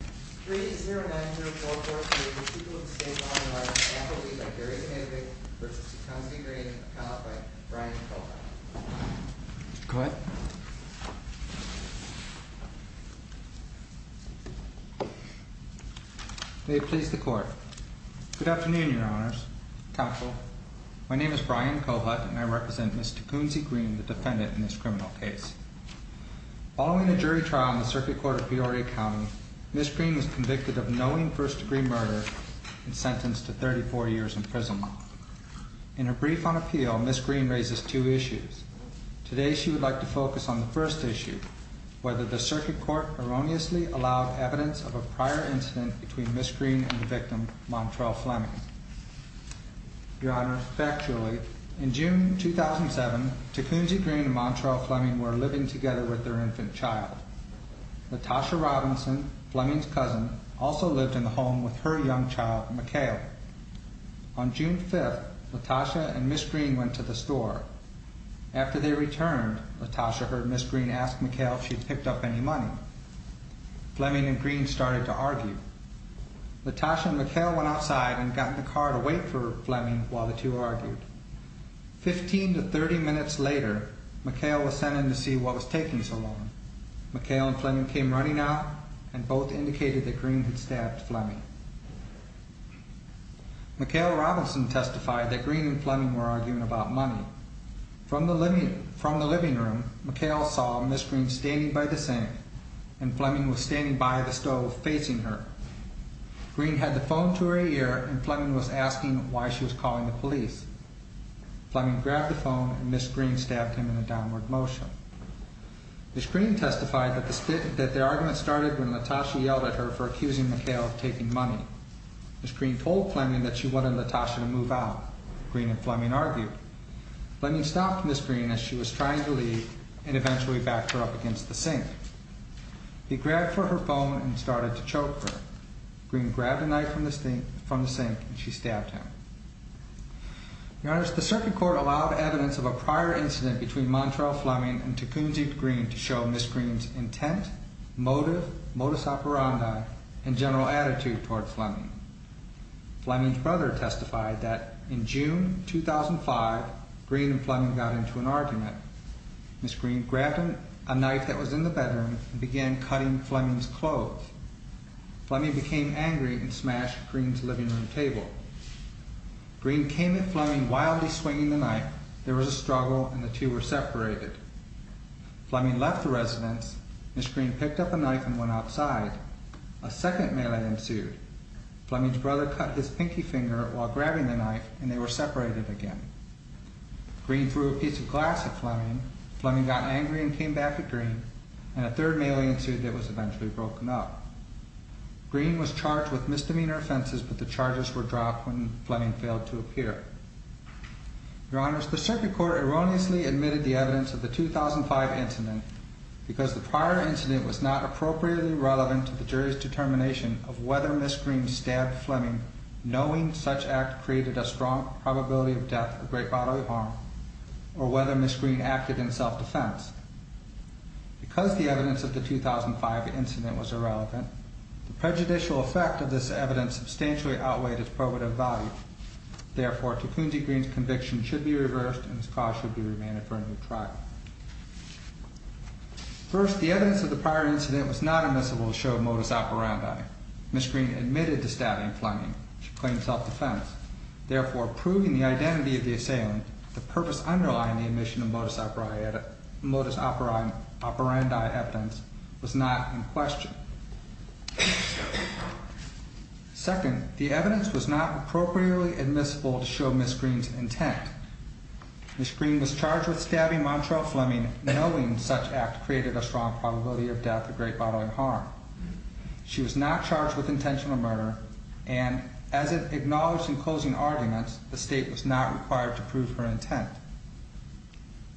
3-0-9-0-4-4-3, the people of the state of Illinois, an apple leaf by Gary David, v. Tecumseh Green, counseled by Brian Kohut. Go ahead. May it please the court. Good afternoon, your honors. Counsel, my name is Brian Kohut, and I represent Ms. Tecumseh Green, the defendant in this criminal case. Following a jury trial in the Circuit Court of Peoria County, Ms. Green was convicted of knowing first-degree murder and sentenced to 34 years in prison. In her brief on appeal, Ms. Green raises two issues. Today, she would like to focus on the first issue, whether the Circuit Court erroneously allowed evidence of a prior incident between Ms. Green and the victim, Montrell Fleming. Your honors, factually, in June 2007, Tecumseh Green and Montrell Fleming were living together with their infant child. Latasha Robinson, Fleming's cousin, also lived in the home with her young child, McHale. On June 5th, Latasha and Ms. Green went to the store. After they returned, Latasha heard Ms. Green ask McHale if she'd picked up any money. Fleming and Green started to argue. Latasha and McHale went outside and got in the car to wait for Fleming while the two argued. Fifteen to thirty minutes later, McHale was sent in to see what was taking so long. McHale and Fleming came running out and both indicated that Green had stabbed Fleming. McHale Robinson testified that Green and Fleming were arguing about money. From the living room, McHale saw Ms. Green standing by the sink and Fleming was standing by the stove facing her. Green had the phone to her ear and Fleming was asking why she was calling the police. Fleming grabbed the phone and Ms. Green stabbed him in a downward motion. Ms. Green testified that their argument started when Latasha yelled at her for accusing McHale of taking money. Ms. Green told Fleming that she wanted Latasha to move out. Green and Fleming argued. Fleming stopped Ms. Green as she was trying to leave and eventually backed her up against the sink. He grabbed for her phone and started to choke her. Green grabbed a knife from the sink and she stabbed him. Your Honors, the circuit court allowed evidence of a prior incident between Montrell Fleming and Tecumseh Green to show Ms. Green's intent, motive, modus operandi, and general attitude towards Fleming. Fleming's brother testified that in June 2005, Green and Fleming got into an argument. Ms. Green grabbed a knife that was in the bedroom and began cutting Fleming's clothes. Fleming became angry and smashed Green's living room table. Green came at Fleming wildly swinging the knife. There was a struggle and the two were separated. Fleming left the residence. Ms. Green picked up a knife and went outside. A second melee ensued. Fleming's brother cut his pinky finger while grabbing the knife and they were separated again. Green threw a piece of glass at Fleming. Fleming got angry and came back at Green. And a third melee ensued that was eventually broken up. Green was charged with misdemeanor offenses but the charges were dropped when Fleming failed to appear. Your Honors, the circuit court erroneously admitted the evidence of the 2005 incident because the prior incident was not appropriately relevant to the jury's determination of whether Ms. Green stabbed Fleming knowing such act created a strong probability of death or great bodily harm or whether Ms. Green acted in self-defense. Because the evidence of the 2005 incident was irrelevant, the prejudicial effect of this evidence substantially outweighed its probative value. Therefore, Takunji Green's conviction should be reversed and his cause should be remanded for a new trial. First, the evidence of the prior incident was not admissible to show modus operandi. Ms. Green admitted to stabbing Fleming. She claimed self-defense. Therefore, proving the identity of the assailant, the purpose underlying the admission of modus operandi evidence was not in question. Second, the evidence was not appropriately admissible to show Ms. Green's intent. Ms. Green was charged with stabbing Montrell Fleming knowing such act created a strong probability of death or great bodily harm. She was not charged with intentional murder and as it acknowledged in closing arguments, the State was not required to prove her intent.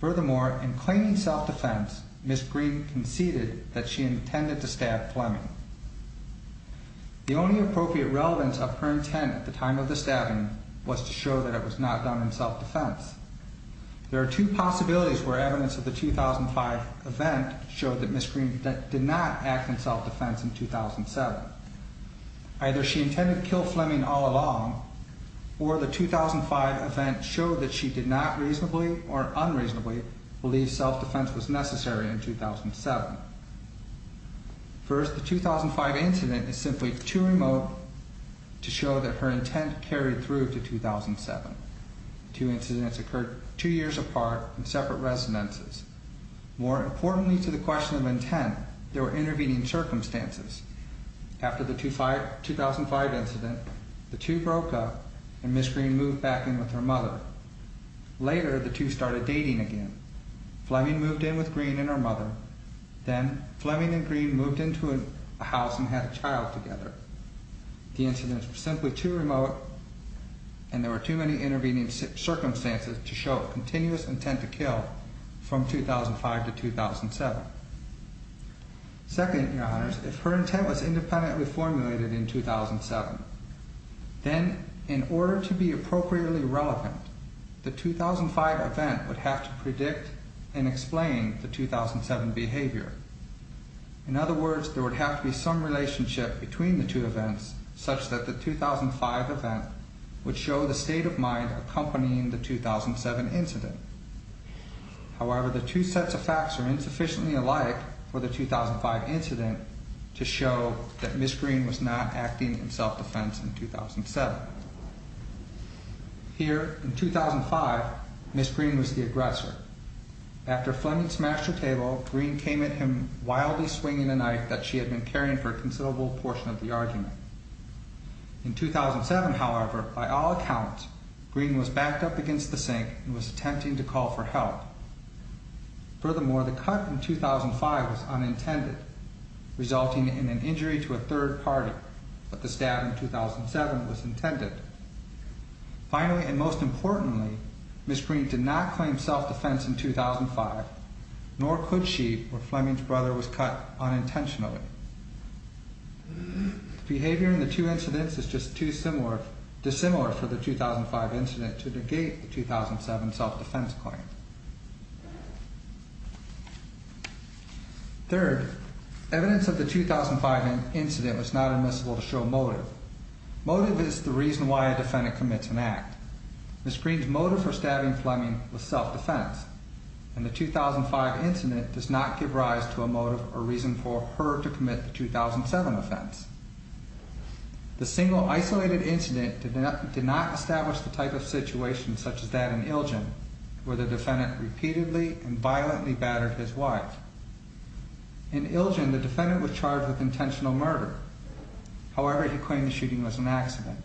Furthermore, in claiming self-defense, Ms. Green conceded that she intended to stab Fleming. The only appropriate relevance of her intent at the time of the stabbing was to show that it was not done in self-defense. There are two possibilities where evidence of the 2005 event showed that Ms. Green did not act in self-defense in 2007. Either she intended to kill Fleming all along or the 2005 event showed that she did not reasonably or unreasonably believe self-defense was necessary in 2007. First, the 2005 incident is simply too remote to show that her intent carried through to 2007. Two incidents occurred two years apart in separate residences. More importantly to the question of intent, there were intervening circumstances. After the 2005 incident, the two broke up and Ms. Green moved back in with her mother. Later, the two started dating again. Fleming moved in with Green and her mother. Then, Fleming and Green moved into a house and had a child together. The incidents were simply too remote and there were too many intervening circumstances to show a continuous intent to kill from 2005 to 2007. Second, Your Honors, if her intent was independently formulated in 2007, then in order to be appropriately relevant, the 2005 event would have to predict and explain the 2007 behavior. In other words, there would have to be some relationship between the two events such that the 2005 event would show the state of mind accompanying the 2007 incident. However, the two sets of facts are insufficiently alike for the 2005 incident to show that Ms. Green was not acting in self-defense in 2007. Here, in 2005, Ms. Green was the aggressor. After Fleming smashed her table, Green came at him wildly swinging a knife that she had been carrying for a considerable portion of the argument. In 2007, however, by all accounts, Green was backed up against the sink and was attempting to call for help. Furthermore, the cut in 2005 was unintended, resulting in an injury to a third party, but the stab in 2007 was intended. Finally, and most importantly, Ms. Green did not claim self-defense in 2005, nor could she where Fleming's brother was cut unintentionally. The behavior in the two incidents is just too dissimilar for the 2005 incident to negate the 2007 self-defense claim. Third, evidence of the 2005 incident was not admissible to show motive. Motive is the reason why a defendant commits an act. Ms. Green's motive for stabbing Fleming was self-defense, and the 2005 incident does not give rise to a motive or reason for her to commit the 2007 offense. The single isolated incident did not establish the type of situation such as that in Ilgin, where the defendant repeatedly and violently battered his wife. In Ilgin, the defendant was charged with intentional murder. However, he claimed the shooting was an accident.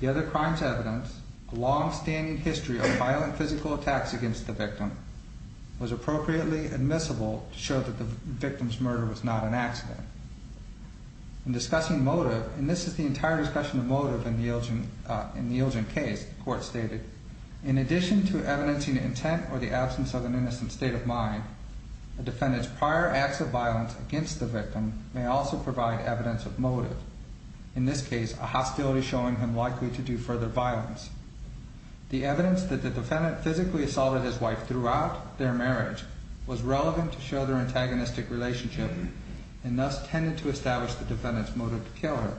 The other crimes evidence, a long-standing history of violent physical attacks against the victim, was appropriately admissible to show that the victim's murder was not an accident. In discussing motive, and this is the entire discussion of motive in the Ilgin case, the court stated, in addition to evidencing intent or the absence of an innocent state of mind, a defendant's prior acts of violence against the victim may also provide evidence of motive, in this case, a hostility showing him likely to do further violence. The evidence that the defendant physically assaulted his wife throughout their marriage was relevant to show their antagonistic relationship and thus tended to establish the defendant's motive to kill her.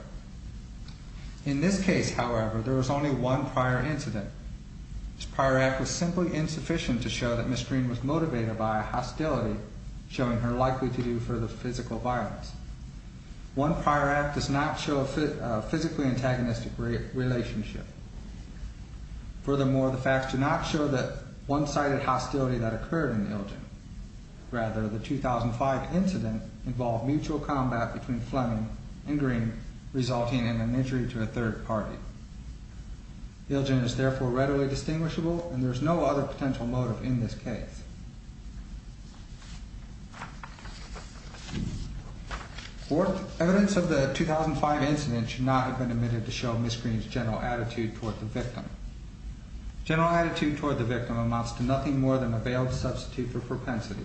In this case, however, there was only one prior incident. This prior act was simply insufficient to show that Miss Green was motivated by a hostility showing her likely to do further physical violence. One prior act does not show a physically antagonistic relationship. Furthermore, the facts do not show the one-sided hostility that occurred in Ilgin. Rather, the 2005 incident involved mutual combat between Fleming and Green resulting in an injury to a third party. Ilgin is therefore readily distinguishable, and there is no other potential motive in this case. Fourth, evidence of the 2005 incident should not have been admitted to show Miss Green's general attitude toward the victim. General attitude toward the victim amounts to nothing more than a veiled substitute for propensity.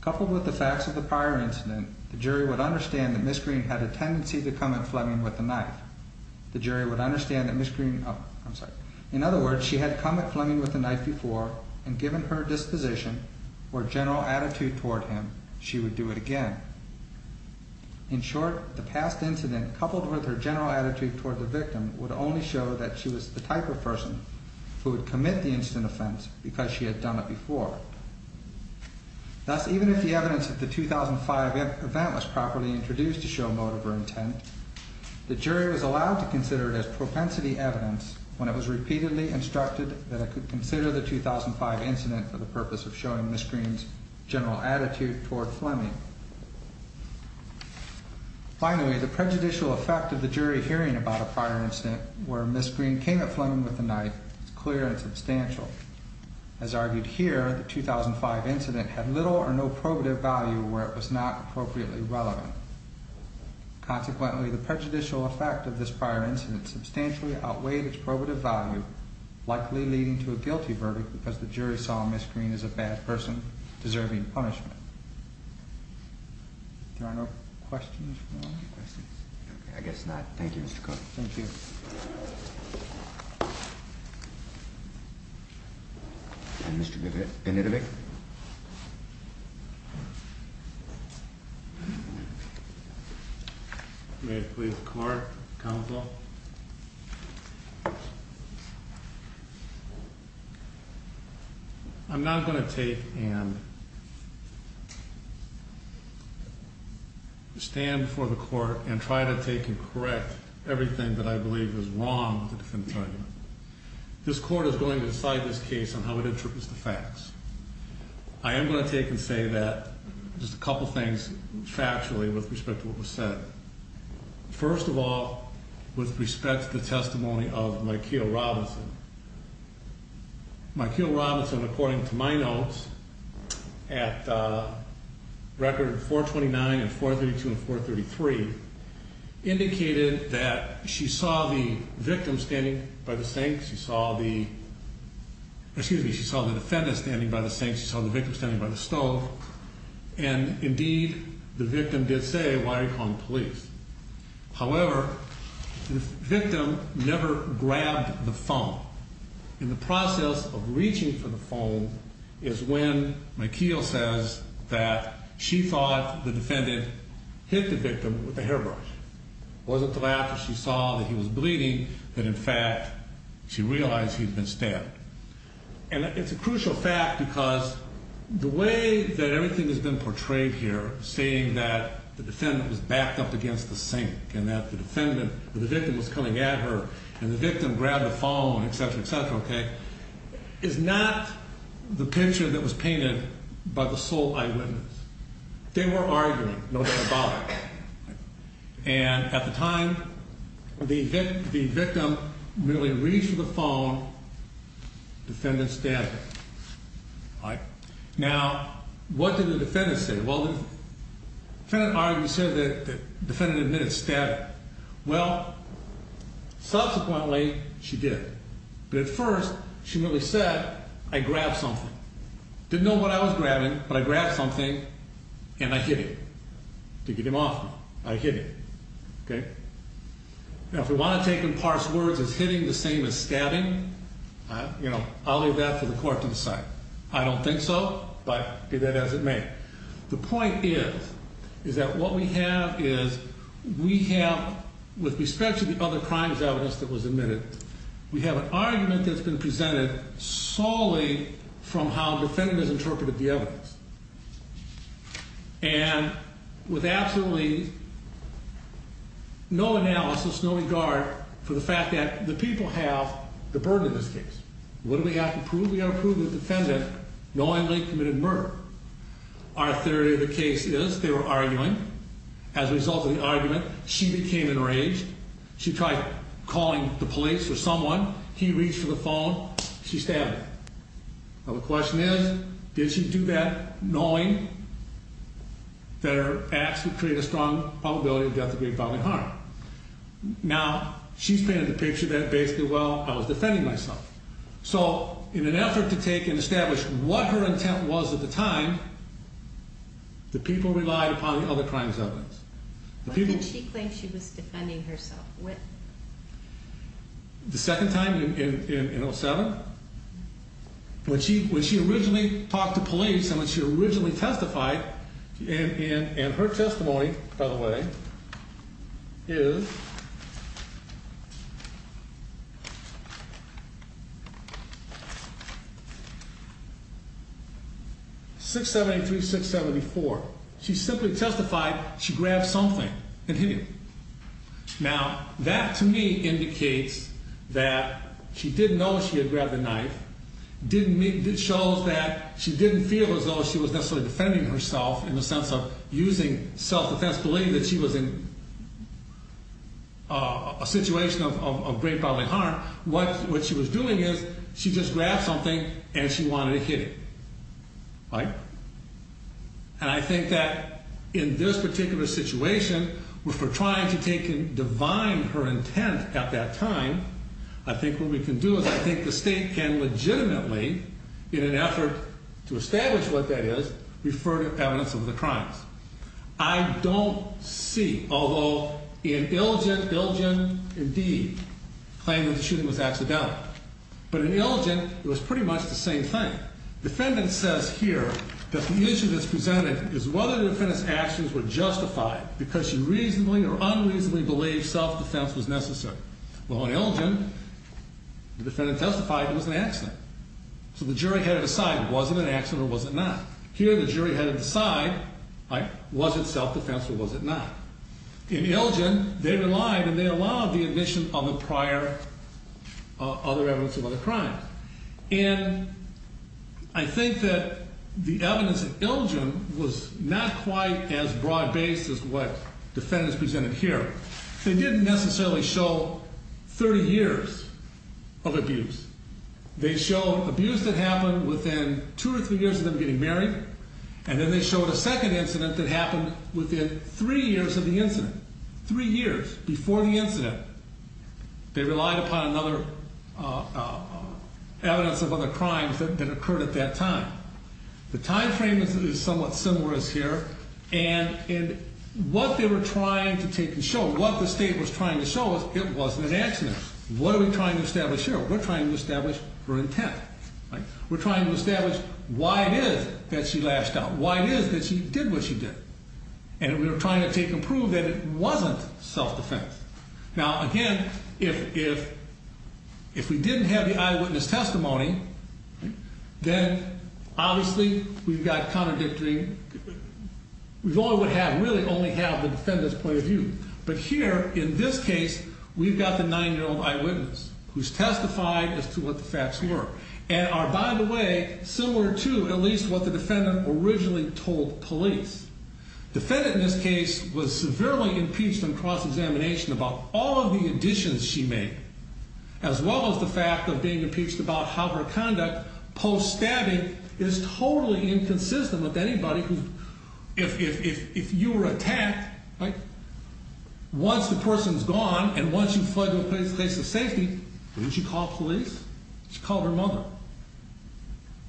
Coupled with the facts of the prior incident, the jury would understand that Miss Green had a tendency to come at Fleming with a knife. The jury would understand that Miss Green... Oh, I'm sorry. In other words, she had come at Fleming with a knife before and given her disposition or general attitude toward him, she would do it again. In short, the past incident coupled with her general attitude toward the victim would only show that she was the type of person who would commit the incident offense because she had done it before. Thus, even if the evidence of the 2005 event was properly introduced to show motive or intent, the jury was allowed to consider it as propensity evidence when it was repeatedly instructed that it could consider the 2005 incident for the purpose of showing Miss Green's general attitude toward Fleming. Finally, the prejudicial effect of the jury hearing about a prior incident where Miss Green came at Fleming with a knife is clear and substantial. As argued here, the 2005 incident had little or no probative value where it was not appropriately relevant. Consequently, the prejudicial effect of this prior incident substantially outweighed its probative value, likely leading to a guilty verdict because the jury saw Miss Green as a bad person deserving punishment. There are no questions? I guess not. Thank you, Mr. Clark. Thank you. And Mr. Benitovic? May I please, Clark, counsel? First of all, I'm not going to take and stand before the court and try to take and correct everything that I believe is wrong with the defendant's argument. This court is going to decide this case on how it interprets the facts. I am going to take and say just a couple of things factually with respect to what was said. First of all, with respect to the testimony of Mykeel Robinson. Mykeel Robinson, according to my notes, at record 429 and 432 and 433, indicated that she saw the victim standing by the sink. She saw the defendant standing by the sink. She saw the victim standing by the stove. And, indeed, the victim did say, why are you calling the police? However, the victim never grabbed the phone. In the process of reaching for the phone is when Mykeel says that she thought the defendant hit the victim with a hairbrush. It wasn't until after she saw that he was bleeding that, in fact, she realized he had been stabbed. And it's a crucial fact because the way that everything has been portrayed here, saying that the defendant was backed up against the sink and that the victim was coming at her and the victim grabbed the phone, et cetera, et cetera, okay, is not the picture that was painted by the sole eyewitness. They were arguing, no symbolic. And at the time, the victim merely reached for the phone. Defendant stabbed her. Now, what did the defendant say? Well, the defendant argued and said that the defendant admitted stabbing. Well, subsequently, she did. But at first, she merely said, I grabbed something. Didn't know what I was grabbing, but I grabbed something and I hit it. To get him off me, I hit him, okay? Now, if we want to take and parse words as hitting the same as stabbing, you know, I'll leave that for the court to decide. I don't think so, but do that as it may. The point is, is that what we have is we have, with respect to the other crimes evidence that was admitted, we have an argument that's been presented solely from how the defendant has interpreted the evidence. And with absolutely no analysis, no regard for the fact that the people have the burden of this case. What do we have to prove? We have to prove that the defendant knowingly committed murder. Our theory of the case is they were arguing. As a result of the argument, she became enraged. She tried calling the police or someone. He reached for the phone. She stabbed him. Now, the question is, did she do that knowing that her acts would create a strong probability of death of great bodily harm? Now, she's painted the picture that basically, well, I was defending myself. So, in an effort to take and establish what her intent was at the time, the people relied upon the other crimes evidence. What did she claim she was defending herself with? The second time in 07? When she originally talked to police and when she originally testified, and her testimony, by the way, is 673-674. She simply testified she grabbed something and hit him. Now, that to me indicates that she didn't know she had grabbed the knife. It shows that she didn't feel as though she was necessarily defending herself in the sense of using self-defense, believing that she was in a situation of great bodily harm. What she was doing is she just grabbed something and she wanted to hit him. Right? And I think that in this particular situation, if we're trying to take and divine her intent at that time, I think what we can do is I think the state can legitimately, in an effort to establish what that is, refer to evidence of the crimes. I don't see, although in Illigent, Illigent, indeed, claimed that the shooting was accidental. But in Illigent, it was pretty much the same thing. Defendant says here that the issue that's presented is whether the defendant's actions were justified because she reasonably or unreasonably believed self-defense was necessary. Well, in Illigent, the defendant testified it was an accident. So the jury had to decide, was it an accident or was it not? Here, the jury had to decide, was it self-defense or was it not? In Illigent, they relied and they allowed the admission of the prior other evidence of other crimes. And I think that the evidence in Illigent was not quite as broad-based as what defendants presented here. They didn't necessarily show 30 years of abuse. They showed abuse that happened within two or three years of them getting married, and then they showed a second incident that happened within three years of the incident, three years before the incident. They relied upon another evidence of other crimes that occurred at that time. The time frame is somewhat similar as here. And what they were trying to take and show, what the state was trying to show was it wasn't an accident. What are we trying to establish here? We're trying to establish her intent. We're trying to establish why it is that she lashed out, why it is that she did what she did. And we were trying to take and prove that it wasn't self-defense. Now, again, if we didn't have the eyewitness testimony, then obviously we've got contradictory. We really only have the defendant's point of view. But here, in this case, we've got the 9-year-old eyewitness who's testified as to what the facts were and are, by the way, similar to at least what the defendant originally told police. Defendant, in this case, was severely impeached on cross-examination about all of the additions she made, as well as the fact of being impeached about how her conduct post-stabbing is totally inconsistent with anybody who, if you were attacked, right, once the person's gone and once you've fled to a place of safety, didn't she call police? She called her mother.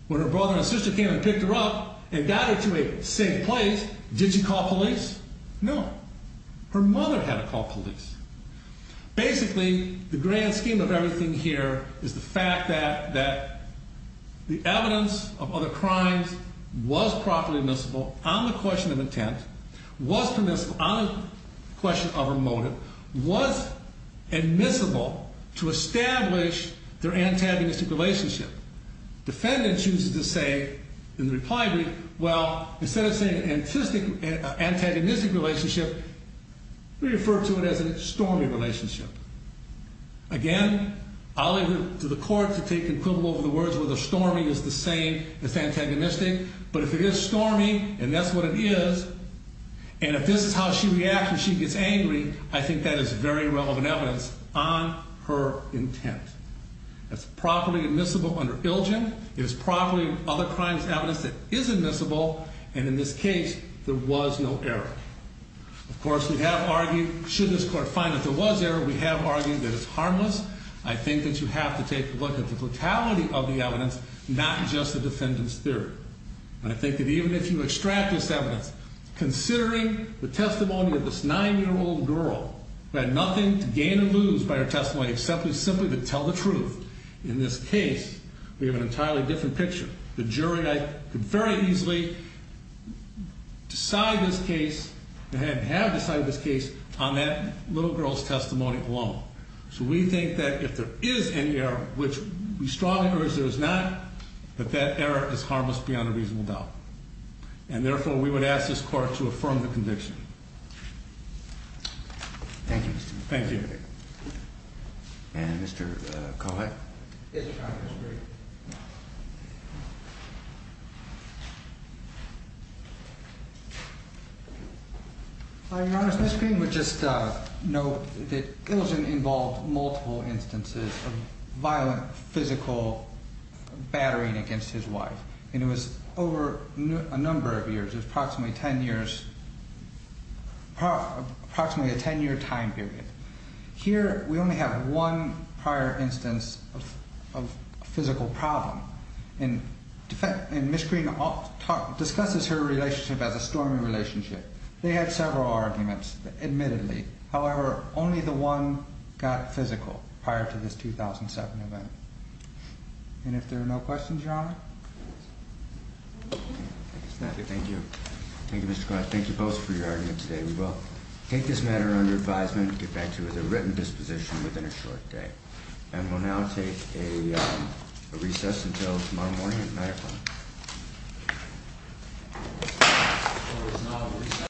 When her brother and sister came and picked her up and got her to a safe place, did she call police? No. Her mother had to call police. Basically, the grand scheme of everything here is the fact that the evidence of other crimes was properly admissible on the question of intent, was permissible on the question of her motive, was admissible to establish their antagonistic relationship. Defendant chooses to say in the reply brief, well, instead of saying antagonistic relationship, we refer to it as a stormy relationship. Again, I'll leave it to the court to take equivalent of the words whether stormy is the same as antagonistic, but if it is stormy, and that's what it is, and if this is how she reacts when she gets angry, I think that is very relevant evidence on her intent. That's properly admissible under ILGEN. It is properly other crimes evidence that is admissible, and in this case, there was no error. Of course, we have argued, should this court find that there was error, we have argued that it's harmless. I think that you have to take a look at the totality of the evidence, not just the defendant's theory. And I think that even if you extract this evidence, considering the testimony of this nine-year-old girl who had nothing to gain or lose by her testimony except simply to tell the truth, in this case, we have an entirely different picture. The jury could very easily decide this case, and have decided this case, on that little girl's testimony alone. So we think that if there is any error, which we strongly urge there is not, that that error is harmless beyond a reasonable doubt. And therefore, we would ask this court to affirm the conviction. Thank you, Mr. Green. Thank you. And Mr. Kollack? Yes, Your Honor, Mr. Green. Your Honor, Mr. Green would just note that Ilgen involved multiple instances of violent physical battering against his wife. And it was over a number of years, approximately ten years, approximately a ten-year time period. Here, we only have one prior instance of physical problem. And Ms. Green discusses her relationship as a stormy relationship. They had several arguments, admittedly. However, only the one got physical prior to this 2007 event. And if there are no questions, Your Honor? Thank you. Thank you, Mr. Kollack. Thank you both for your arguments today. We will take this matter under advisement and get back to you with a written disposition within a short day. And we'll now take a recess until tomorrow morning at 9 o'clock.